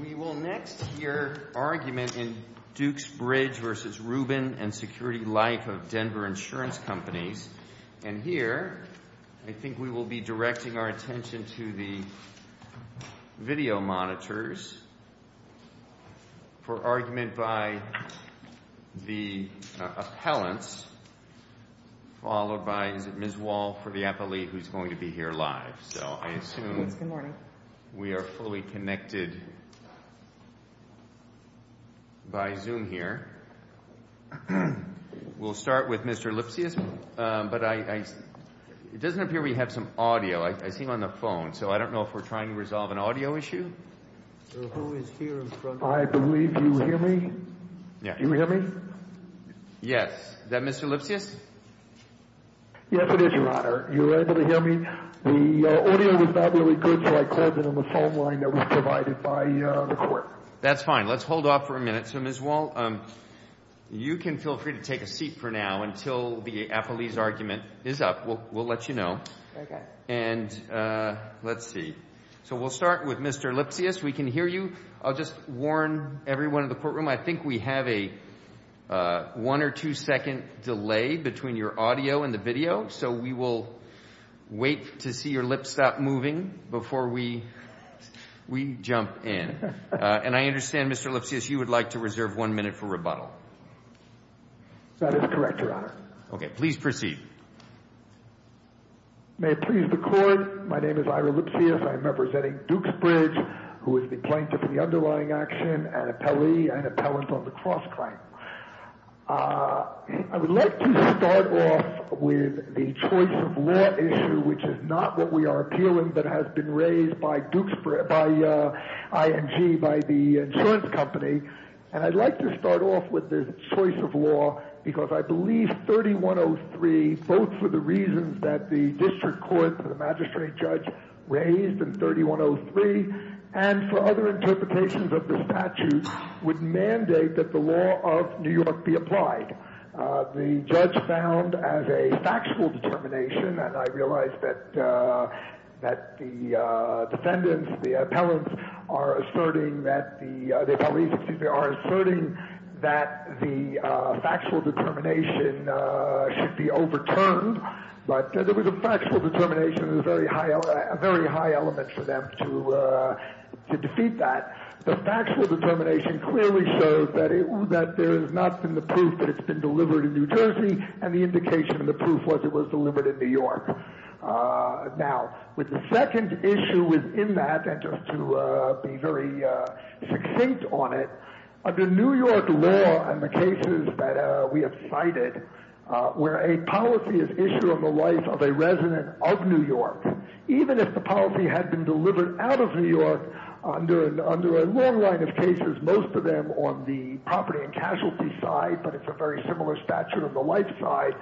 We will next hear argument in Dukes Bridge v. Rubin and Security Life of Denver Insurance Companies. And here, I think we will be directing our attention to the video monitors for argument by the appellants, followed by, is it Ms. Wall for the appellate who is going to be here live. So I assume we are fully connected by Zoom here. We'll start with Mr. Lipsius, but it doesn't appear we have some audio. I see him on the phone, so I don't know if we are trying to resolve an audio issue. Yes, is that Mr. Lipsius? That's fine. Let's hold off for a minute. So Ms. Wall, you can feel free to take a seat for now until the So we'll start with Mr. Lipsius. We can hear you. I'll just warn everyone in the courtroom, I think we have a one or two second delay between your audio and the video, so we will wait to see your lips stop moving before we jump in. And I understand, Mr. Lipsius, you would like to reserve one minute for rebuttal. That is correct, Your Honor. Okay, please Mr. Lipsius, I would like to start off with the choice of law issue, which is not what we are appealing, but has been raised by ING, by the insurance company. And I'd like to start off with the choice of law, because I believe 3103, both for the reasons that the district court, the magistrate judge raised in 3103, and for other interpretations of the statute, would mandate that the law of New York be applied. The judge found as a factual determination, and I realize that the defendants, the appellants, are asserting that the, the appellees, excuse me, are asserting that the factual determination should be overturned. But there was a factual determination, a very high, a very high element for them to, to defeat that. The factual determination clearly shows that it, that there has not been the proof that it's been delivered in New Jersey, and the indication of the proof was it was delivered in New York. Now, with the second issue within that, and just to be very succinct on it, under New York law and the cases that we have cited, where a policy is issued on the life of a resident of New York, even if the policy had been delivered out of New York under, under a long line of cases, most of them on the property and casualty side, but it's a very similar statute on the life side,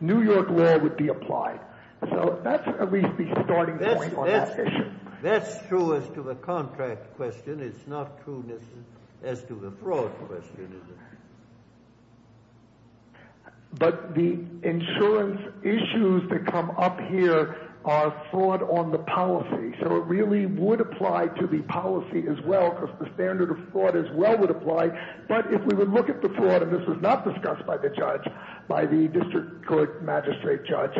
New York law would be applied. So that's at least the starting point on that issue. That's true as to the contract question. It's not true as to the fraud question, is it? But the insurance issues that come up here are fraud on the policy. So it really would apply to the policy as well, because the standard of fraud as well would apply. But if we would look at the fraud, and this was not discussed by the judge, by the district court magistrate judge,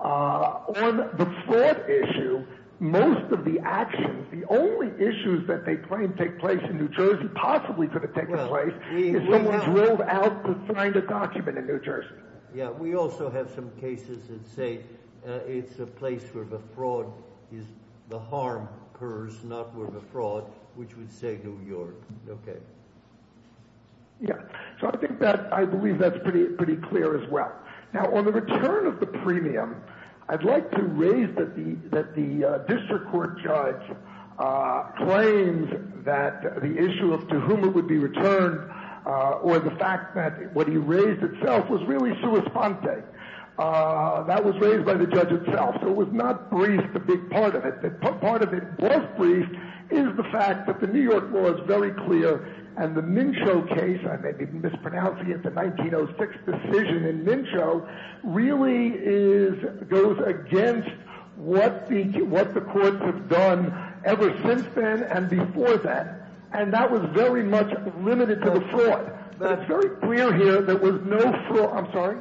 on the fraud issue, most of the actions, the only issues that they claim take place in New Jersey possibly could have taken place is someone drilled out to find a document in New Jersey. Yeah, we also have some cases that say it's a place where the fraud is the harm occurs, not where the fraud, which would say New York. Okay. Yeah. So I think that I believe that's pretty clear as well. Now, on the return of the premium, I'd like to raise that the district court judge claims that the issue of to whom it would be returned, or the fact that what he raised itself was really sui sponte. That was raised by the judge itself. So it was not briefed, the big part of it, but part of it was briefed is the fact that the New York law is very clear. And the Mincho case, I may be mispronouncing it, the 1906 decision in Mincho really is goes against what the what the courts have done ever since then and before that. And that was very much limited to the fraud. That's very clear here. There was no fraud. I'm sorry.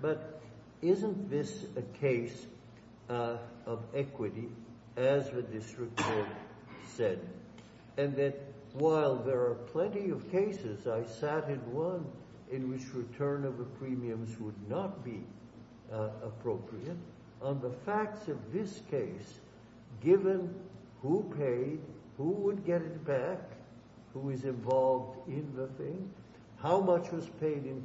But isn't this a case of equity, as the district said, and that while there are plenty of cases, I sat in one in which return of the premiums would not be appropriate on the facts of this case, given who paid who would get it back, who is involved in the thing, how much was paid in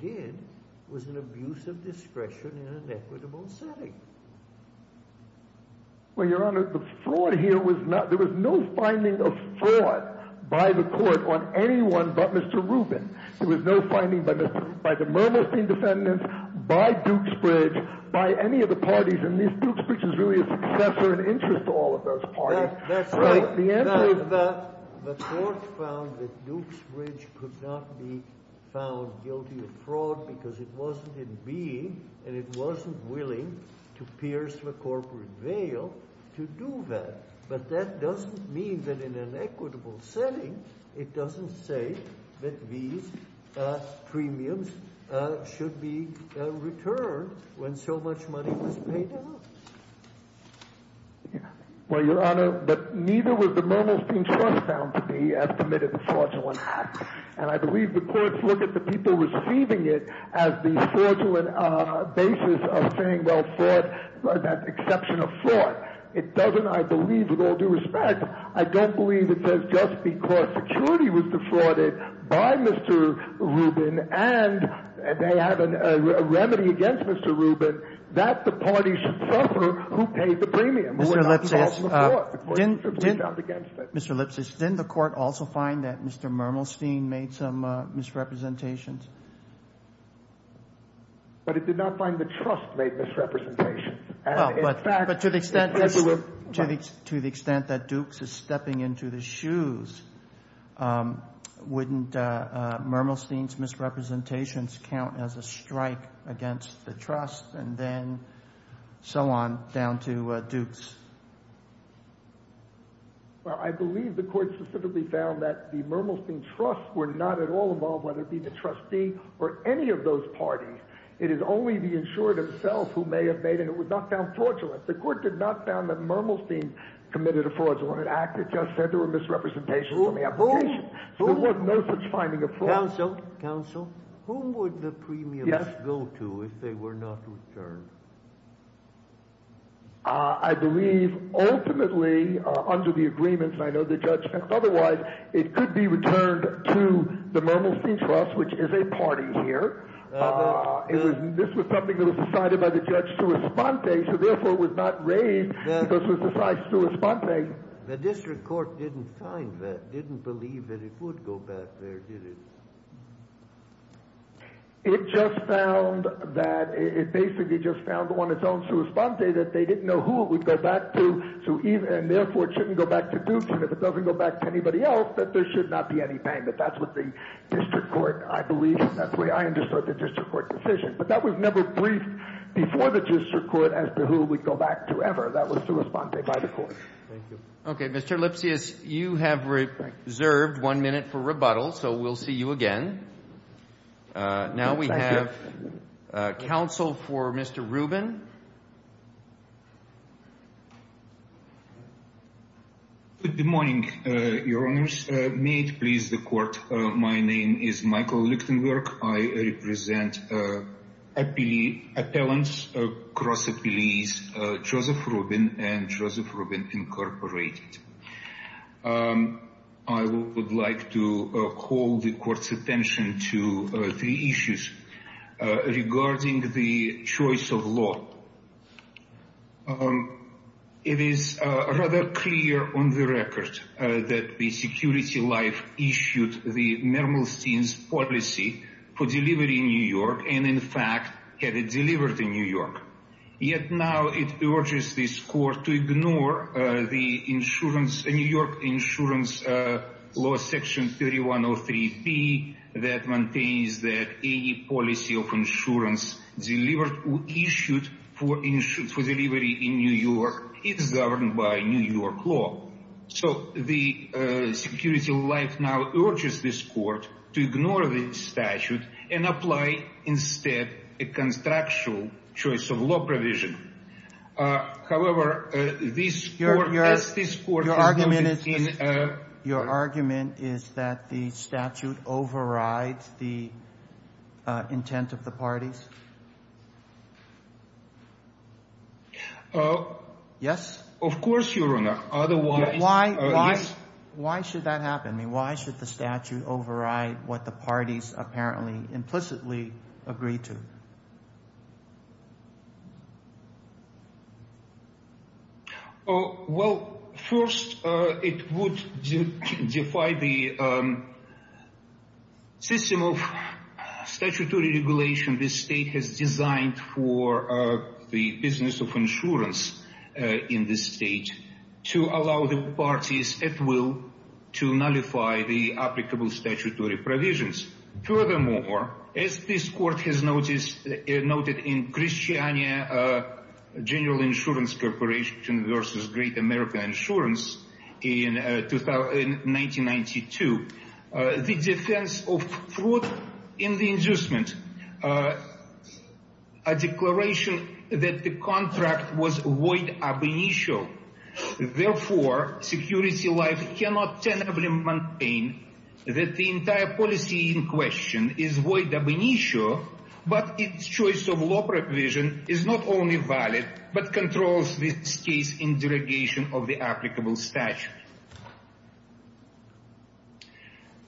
did was an abuse of discretion in an equitable setting. Well, Your Honor, the fraud here was not there was no finding of fraud by the court on anyone but Mr. Rubin. There was no finding by Mr. by the Mermelstein defendants, by Dukes Bridge, by any of the parties in this Dukes Bridge is really a successor and interest to all of those that's right. The end of the court found that Dukes Bridge could not be found guilty of fraud because it wasn't in being and it wasn't willing to pierce the corporate veil to do that. But that doesn't mean that in an equitable setting, it doesn't say that these premiums should be returned when so much money was paid. Well, Your Honor, but neither was the Mermelstein trust found to be as committed to fraudulent acts. And I believe the courts look at the people receiving it as the fraudulent basis of saying, well, fraud, that exception of fraud. It doesn't, I believe, with all due respect, I don't believe it says just because security was defrauded by Mr. Rubin and they have a remedy against Mr. Rubin, that the party should suffer who paid the premium. Mr. Lipsitz, didn't the court also find that Mr. Mermelstein made some misrepresentations? But it did not find the trust made misrepresentations. To the extent that Dukes is stepping into the shoes, wouldn't Mermelstein's misrepresentations count as a strike against the trust and then so on down to Dukes? Well, I believe the court specifically found that the Mermelstein trust were not at all involved, whether it be the trustee or any of those parties. It is only the insured himself who may have made it. It was not found fraudulent. The court did not found that Mermelstein committed a fraudulent act. It just said there were misrepresentations on the application. There was no such finding of fraud. Counsel, who would the premiums go to if they were not returned? I believe, ultimately, under the agreements, and I know the judge said otherwise, it could be returned to the Mermelstein trust, which is a party here. This was something that was decided by the judge to respond to, so therefore it was not raised because it was decided to respond to. The district court didn't find that, didn't believe that it would go back there, did it? It just found that, it basically just found on its own to respond to that they didn't know who it would go back to, and therefore it shouldn't go back to Dukes, and if it doesn't go back to anybody else, that there should not be any payment. That's what the district court, I believe, that's the way I understood the district court decision. But that was never briefed before the district court as to who we'd go back to ever. That was the response by the court. Thank you. Okay, Mr. Lipsius, you have reserved one minute for rebuttal, so we'll see you again. Now we have counsel for Mr. Rubin. Good morning, your honors. May it please the court, my name is Michael Lichtenberg. I represent appellants across appellees, Joseph Rubin and Joseph Rubin Incorporated. I would like to call the court's attention to three issues regarding the choice of law. It is rather clear on the record that the security life issued the Nermalstein's policy for delivery in New York, and in fact had it delivered in New York. Yet now it urges this court to ignore the New York insurance law section 3103B that maintains that any policy of insurance delivered or issued for delivery in New York is governed by New York law. So the security life now urges this court to ignore the statute and apply instead a constructual choice of law provision. However, this court... Your argument is that the statute overrides the intent of the parties? Yes. Of course, your honor. Otherwise... Why should that happen? I mean, why should the statute override what the parties apparently implicitly agree to? Oh, well, first, it would defy the system of statutory regulation this state has designed for the business of insurance in this state to allow the parties at will to nullify the applicable statutory provisions. Furthermore, as this court has noted in Christiania General Insurance Corporation versus Great American Insurance in 1992, the defense of fraud in the inducement, a declaration that the contract was void ab initio. Therefore, security life cannot tentatively maintain that the entire policy in question is void ab initio, but its choice of law provision is not only valid, but controls this case in derogation of the applicable statute.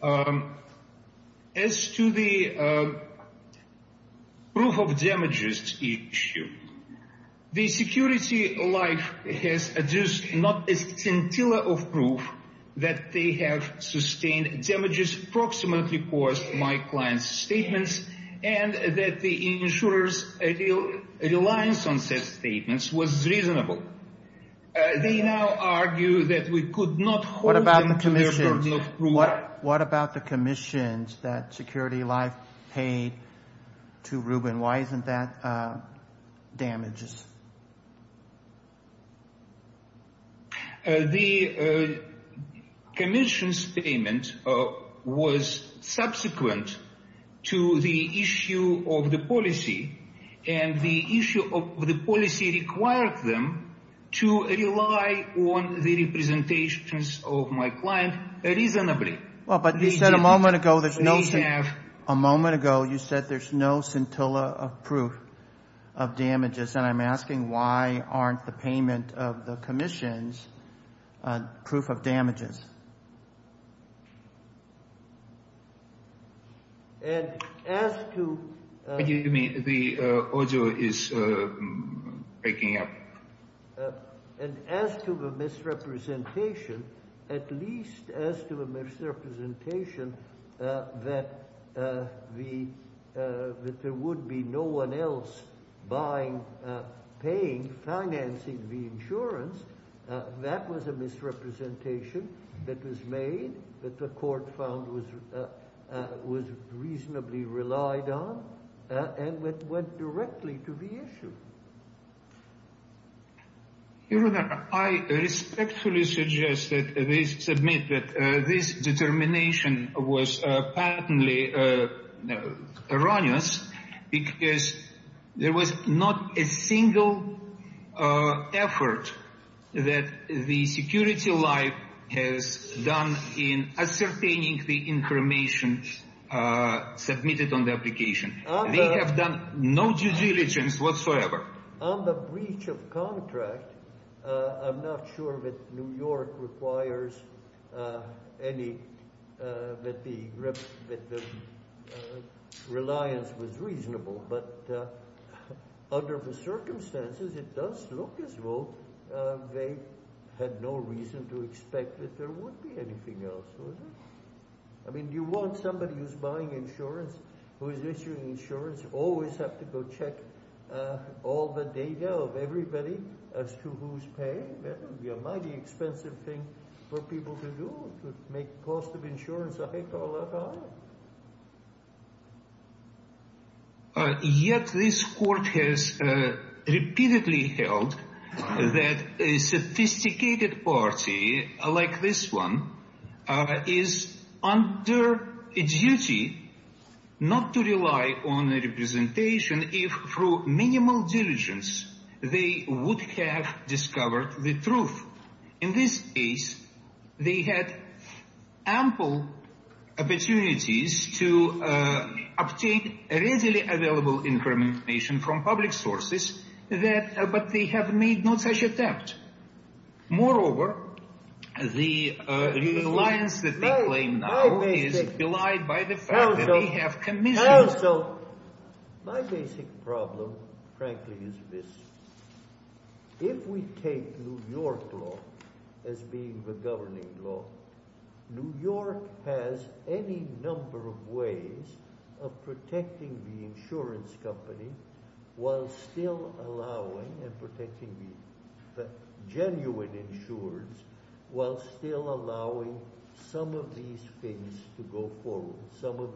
As to the proof of damages issue, the security life has adduced not a scintilla of proof that they have sustained damages approximately because my client's statements and that the insurer's real reliance on said statements was reasonable. They now argue that we could not... What about the commission? What about the commissions that security life paid to Rubin? Why isn't that damages? The commission's payment was subsequent to the issue of the policy, and the issue of the policy required them to rely on the representations of my client reasonably. Well, but you said a moment ago there's no scintilla of proof of damages, and I'm asking why aren't the payment of the commission's proof of damages? Excuse me, the audio is breaking up. And as to the misrepresentation, at least as to the misrepresentation that there would be no one buying, paying, financing the insurance, that was a misrepresentation that was made, that the court found was reasonably relied on, and went directly to the issue. Your Honor, I respectfully suggest that they submit that this determination was patently erroneous because there was not a single effort that the security life has done in ascertaining the information submitted on the application. They have done no due diligence whatsoever. On the breach of contract, I'm not sure that New York requires any, that the reliance was reasonable, but under the circumstances it does look as though they had no reason to expect that there would be anything else. I mean, you want somebody who's buying insurance, who is issuing insurance, always have to go check all the data of everybody as to who's paying. That would be a mighty expensive thing for people to do, to make cost of insurance a heck of a lot higher. Yet this court has repeatedly held that a sophisticated party like this one is under a duty not to rely on a representation if, through minimal diligence, they would have discovered the truth. In this case, they had ample opportunities to obtain readily available information from public sources, but they have made no such attempt. Moreover, the fact that we have commissioned. Also, my basic problem, frankly, is this. If we take New York law as being the governing law, New York has any number of ways of protecting the insurance company while still allowing and protecting the genuine insurers while still allowing some of these stories to go forward.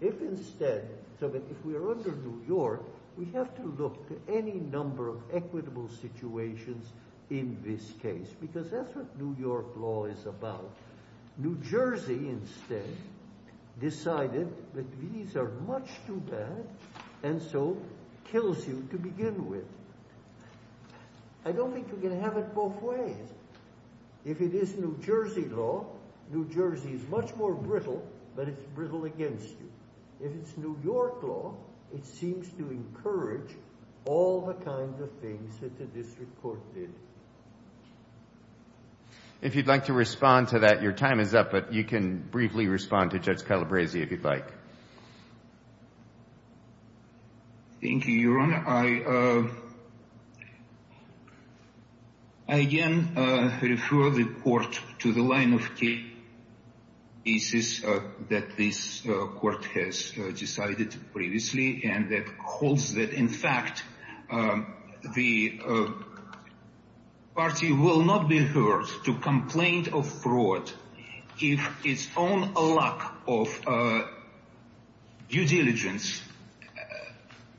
If instead, so that if we are under New York, we have to look to any number of equitable situations in this case, because that's what New York law is about. New Jersey instead decided that these are much too bad and so kills you to begin with. I don't think you can have it both ways. If it is New Jersey law, New Jersey is much more brittle, but it's brittle against you. If it's New York law, it seems to encourage all the kinds of things that the district court did. If you'd like to respond to that, your time is up, but you can briefly respond to Judge Calabresi if you'd like. Thank you, Your Honor. I again refer the court to the line of cases that this court has decided previously and that holds that, in fact, the party will not be heard to complain of fraud if its own lack of due diligence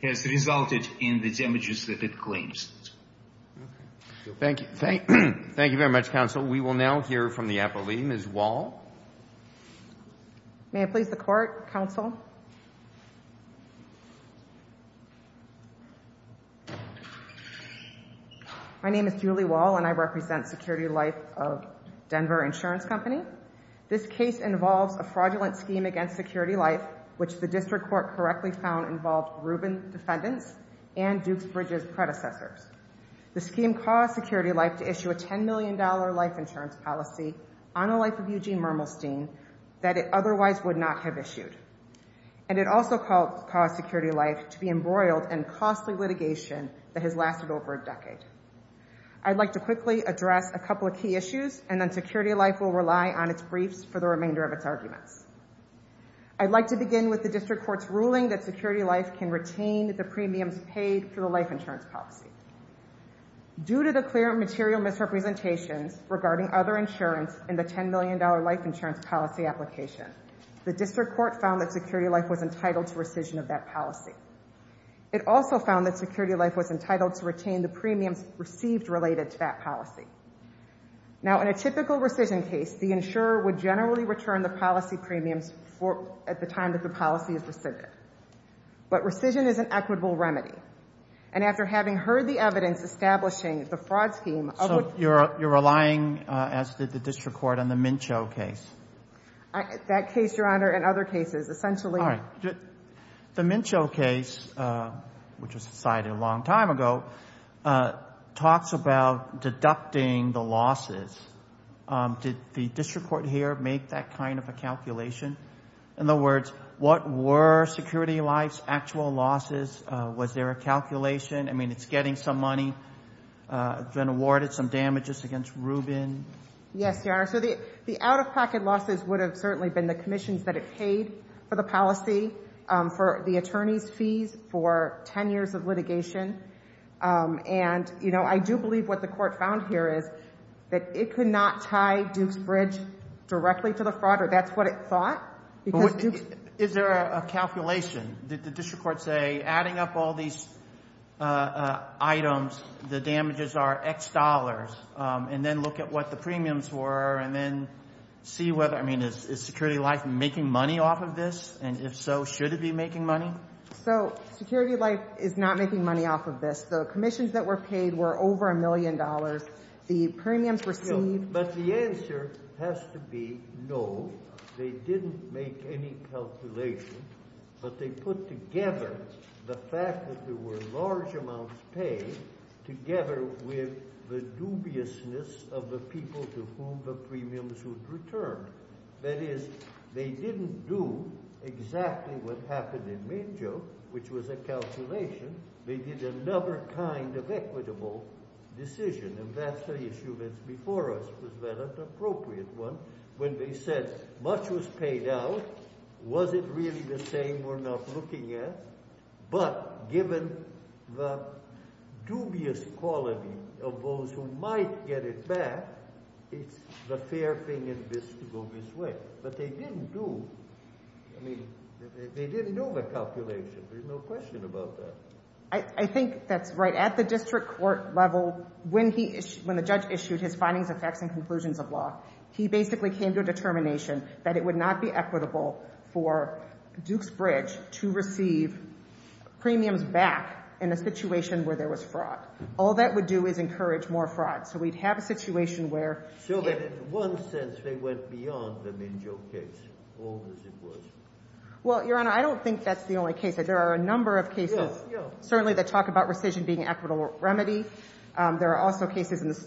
has resulted in the damages that it claims. Thank you. Thank you very much, counsel. We will now hear from the appellee, Ms. Wall. May I please the court, counsel? My name is Julie Wall, and I represent Security Life of Denver Insurance Company. This case involves a fraudulent scheme against Security Life, which the district court correctly found involved Rubin defendants and Dukes Bridges predecessors. The scheme caused Security Life to issue a $10 million life insurance policy on the life of Eugene Mermelstein that it otherwise and it also caused Security Life to be embroiled in costly litigation that has lasted over a decade. I'd like to quickly address a couple of key issues, and then Security Life will rely on its briefs for the remainder of its arguments. I'd like to begin with the district court's ruling that Security Life can retain the premiums paid for the life insurance policy. Due to the clear material misrepresentations regarding other insurance in the $10 million life insurance policy application, the district court found that Security Life was entitled to rescission of that policy. It also found that Security Life was entitled to retain the premiums received related to that policy. Now, in a typical rescission case, the insurer would generally return the policy premiums at the time that the policy is rescinded. But rescission is an equitable remedy. And after having heard the evidence establishing the fraud scheme... So you're relying, as did the district court, on the Mincho case? That case, Your Honor, and other cases, essentially... All right. The Mincho case, which was decided a long time ago, talks about deducting the losses. Did the district court here make that kind of a calculation? In other words, what were Security Life's actual losses? Was there a calculation? I mean, it's getting some money. It's been awarded some damages against Rubin. Yes, Your Honor. So the out-of-pocket losses would have certainly been the commissions that it paid for the policy, for the attorney's fees, for 10 years of litigation. And, you know, I do believe what the court found here is that it could not tie Duke's bridge directly to the all these items. The damages are X dollars. And then look at what the premiums were, and then see whether... I mean, is Security Life making money off of this? And if so, should it be making money? So Security Life is not making money off of this. The commissions that were paid were over a million dollars. The premiums received... But the answer has to be no. They didn't make any calculation, but they put together the fact that there were large amounts paid together with the dubiousness of the people to whom the premiums would return. That is, they didn't do exactly what happened in Mangeau, which was a calculation. They did another kind of equitable decision, and that's the issue that's before us, was that an appropriate one, when they said much was paid out, was it really the same we're not looking at? But given the dubious quality of those who might get it back, it's the fair thing in this to go this way. But they didn't do... I mean, they didn't do the calculation. There's no question about that. I think that's right. At the district court level, when the judge issued his findings, effects, and conclusions of law, he basically came to a determination that it would not be equitable for Dukes Bridge to receive premiums back in a situation where there was fraud. All that would do is encourage more fraud. So we'd have a situation where... So that in one sense, they went beyond the Mangeau case, old as it was. Well, Your Honor, I don't think that's the only case. There are a number of cases, certainly that talk about rescission being equitable remedy. There are also cases in the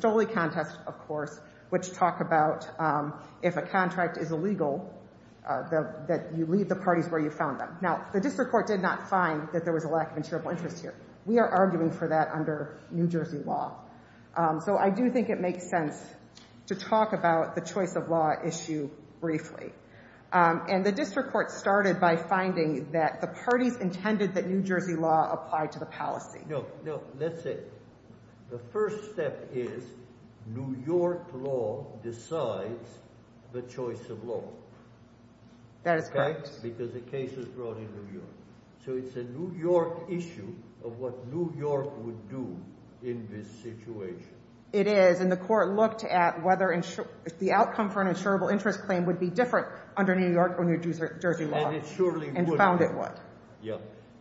if a contract is illegal, that you leave the parties where you found them. Now, the district court did not find that there was a lack of insurable interest here. We are arguing for that under New Jersey law. So I do think it makes sense to talk about the choice of law issue briefly. And the district court started by finding that the parties intended that New Jersey law apply to the policy. No, no, that's it. The first step is New York law decides the choice of law. That is correct. Because the case is brought in New York. So it's a New York issue of what New York would do in this situation. It is. And the court looked at whether the outcome for an insurable interest claim would be different under New York or New Jersey law. And it surely would. Yeah.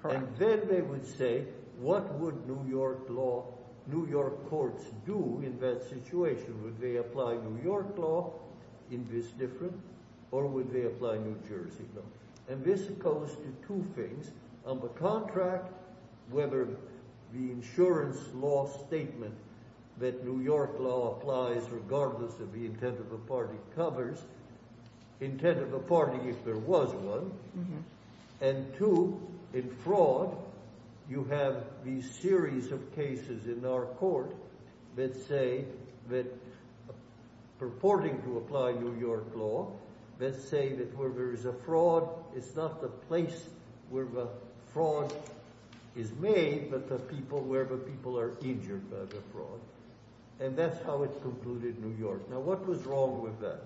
And then they would say, what would New York law, New York courts do in that situation? Would they apply New York law in this different or would they apply New Jersey law? And this goes to two things on the contract, whether the insurance law statement that New York law applies regardless of the intent of the party covers intent of the party if there was one. And two, in fraud, you have these series of cases in our court that say that purporting to apply New York law, let's say that where there is a fraud, it's not the place where the fraud is made, but the people are injured by the fraud. And that's how it's concluded in New York. Now, what was wrong with that?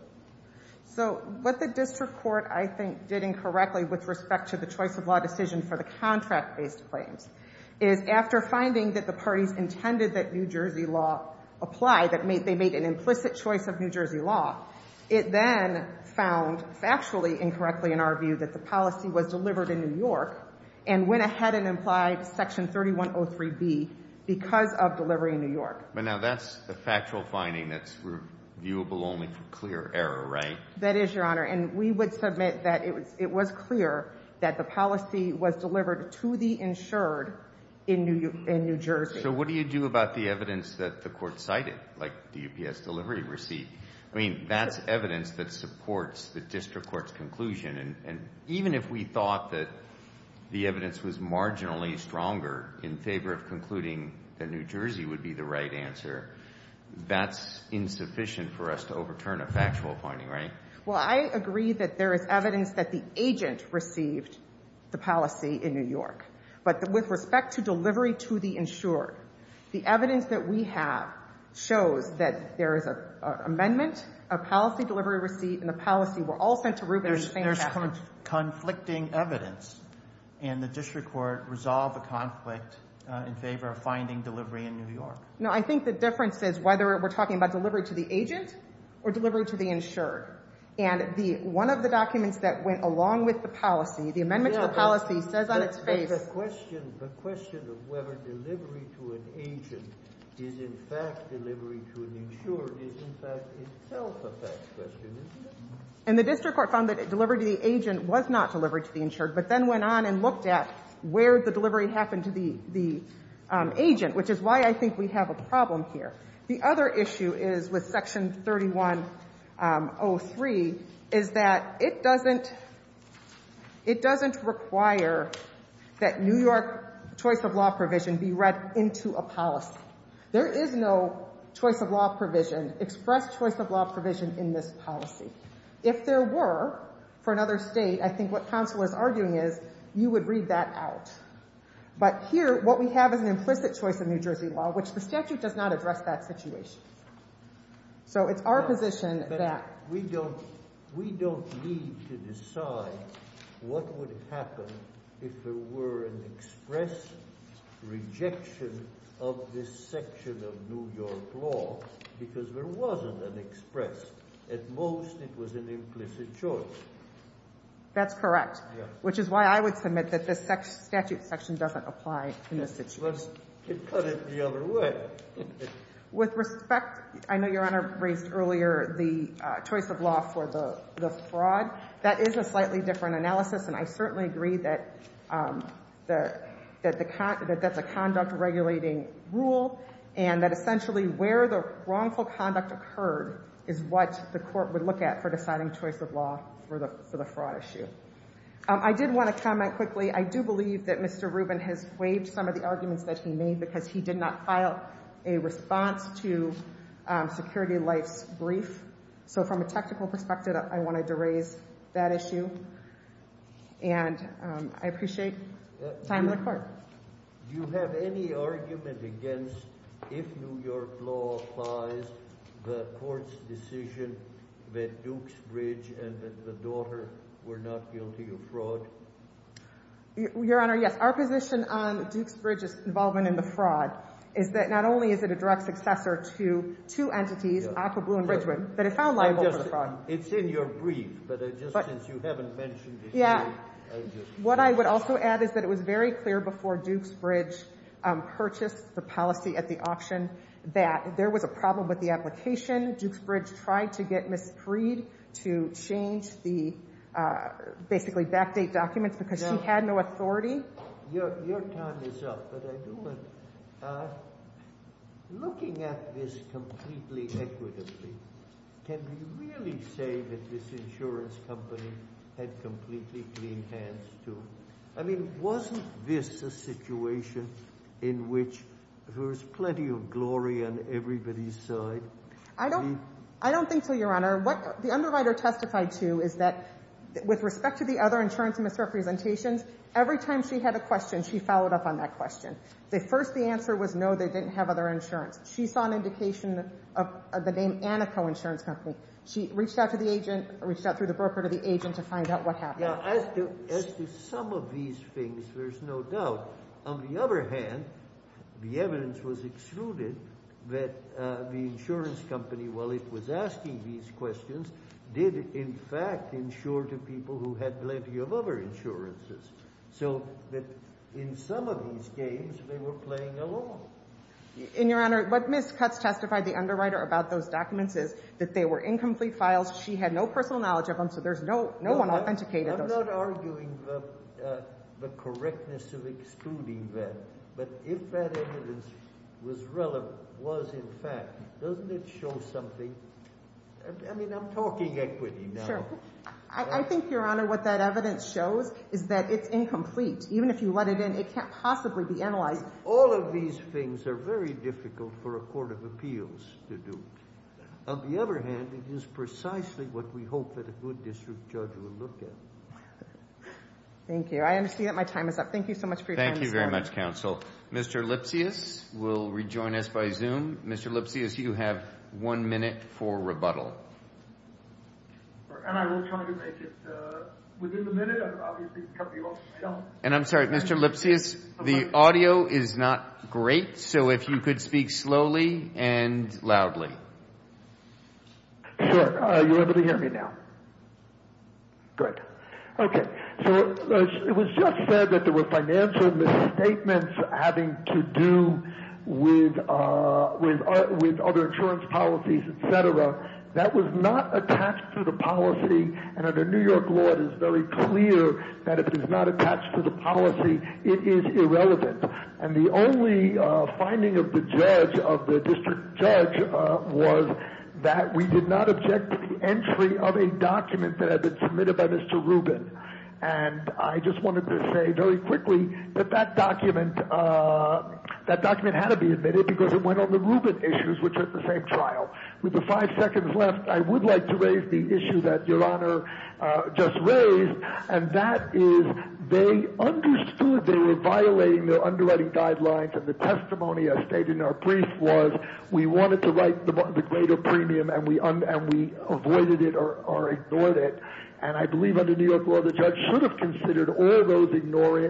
So what the district court, I think, did incorrectly with respect to the choice of law decision for the contract-based claims is after finding that the parties intended that New Jersey law apply, that they made an implicit choice of New Jersey law, it then found factually incorrectly in our view that the policy was delivered in New York and went ahead and implied section 3103B because of delivery in New York. But now that's a factual finding that's reviewable only for clear error, right? That is, Your Honor, and we would submit that it was clear that the policy was delivered to the insured in New Jersey. So what do you do about the evidence that the court cited, like DPS delivery receipt? I mean, that's evidence that supports the district court's argument that the evidence was marginally stronger in favor of concluding that New Jersey would be the right answer. That's insufficient for us to overturn a factual finding, right? Well, I agree that there is evidence that the agent received the policy in New York. But with respect to delivery to the insured, the evidence that we have shows that there is an amendment, a policy delivery receipt, and the policy were all sent to Rubin at the same time. There's conflicting evidence, and the district court resolved the conflict in favor of finding delivery in New York. No, I think the difference is whether we're talking about delivery to the agent or delivery to the insured. And one of the documents that went along with the policy, the amendment to the policy says on its face The question of whether delivery to an agent is in fact delivery to an insured is in fact itself a fact question, isn't it? And the district court found that delivery to the agent was not delivered to the insured, but then went on and looked at where the delivery happened to the agent, which is why I think we have a problem here. The other issue is with Section 3103 is that it doesn't require that New York choice of law provision be read into a policy. There is no choice of law provision, express choice of law provision in this policy. If there were, for another state, I think what counsel is arguing is you would read that out. But here, what we have is an implicit choice of New Jersey law, which the statute does not address that situation. So it's our position that we don't need to decide what would happen if there were an express rejection of this section of New York law, because there wasn't an express. At most, it was an implicit choice. That's correct, which is why I would submit that this statute section doesn't apply in this situation. Let's cut it the other way. With respect, I know Your Honor raised earlier the choice of law for the fraud. That is a slightly different analysis, and I certainly agree that that's a conduct regulating rule, and that essentially where the wrongful conduct occurred is what the court would look at for deciding choice of law for the fraud issue. I did want to comment quickly. I do believe that Mr. Rubin has waived some of the arguments that he made because he did not file a response to Security Life's brief. So from a technical perspective, I wanted to raise that issue, and I appreciate time in the court. Your Honor, do you have any argument against if New York law applies the court's decision that Dukes Bridge and the daughter were not guilty of fraud? Your Honor, yes. Our position on Dukes Bridge's involvement in the fraud is that not only is it a direct successor to two entities, Aqua Blue and Bridgewood, but it found liable for fraud. It's in your brief, but since you haven't mentioned it yet. What I would also add is that it was very clear before Dukes Bridge purchased the policy at the auction that there was a problem with the application. Dukes Bridge tried to get Ms. Creed to change the basically backdate documents because she had no authority. Your time is up, but I do want – looking at this completely equitably, can we really say that this insurance company had completely clean hands, too? I mean, wasn't this a situation in which there was plenty of glory on everybody's side? I don't think so, Your Honor. What the underwriter testified to is that with respect to the other insurance misrepresentations, every time she had a question, she followed up on that question. First, the answer was no, they didn't have other insurance. She saw an indication of the name Anaco Insurance Company. She reached out to the agent – reached out through the broker to the agent to find out what happened. Now, as to some of these things, there's no doubt. On the other hand, the evidence was excluded that the insurance company, while it was asking these questions, did in fact insure to people who had plenty of other insurances. So in some of these games, they were playing along. And, Your Honor, what Ms. Cutts testified, the underwriter, about those documents is that they were incomplete files. She had no personal knowledge of them, so there's no – no one authenticated those. I'm not arguing the correctness of excluding that, but if that evidence was relevant – was, in fact – doesn't it show something? I mean, I'm talking equity now. Sure. I think, Your Honor, what that evidence shows is that it's incomplete. Even if you let it in, it can't possibly be analyzed. All of these things are very difficult for a court of appeals to do. On the other hand, it is precisely what we hope that a good district judge will look at. Thank you. I understand that my time is up. Thank you so much for your time, Mr. – Thank you very much, counsel. Mr. Lipsius will rejoin us by Zoom. Mr. Lipsius, you have one minute for rebuttal. And I will try to make it within the minute. I'm obviously – And I'm sorry, Mr. Lipsius, the audio is not great, so if you could speak slowly and loudly. Sure. Are you able to hear me now? Good. Okay. So it was just said that there were financial misstatements having to do with other insurance policies, et cetera. That was not attached to the policy. And under New York law, it is very clear that if it is not attached to the policy, it is irrelevant. And the only finding of the judge, of the district judge, was that we did not object to the entry of a document that had been submitted by Mr. Rubin. And I just wanted to say very quickly that that document had to be admitted because it went on the Rubin issues, which are at the same trial. With the five seconds left, I would like to raise the issue that Your Honor just raised, and that is they understood they were violating their underwriting guidelines. And the testimony I stated in our brief was we wanted to write the greater premium, and we avoided it or ignored it. And I believe under New York law, the judge should have considered all those things were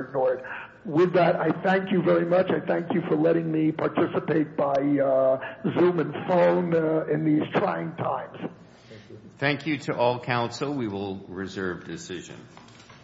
ignored. With that, I thank you very much. I thank you for letting me participate by Zoom and phone in these trying times. Thank you. Thank you to all counsel. We will reserve decision.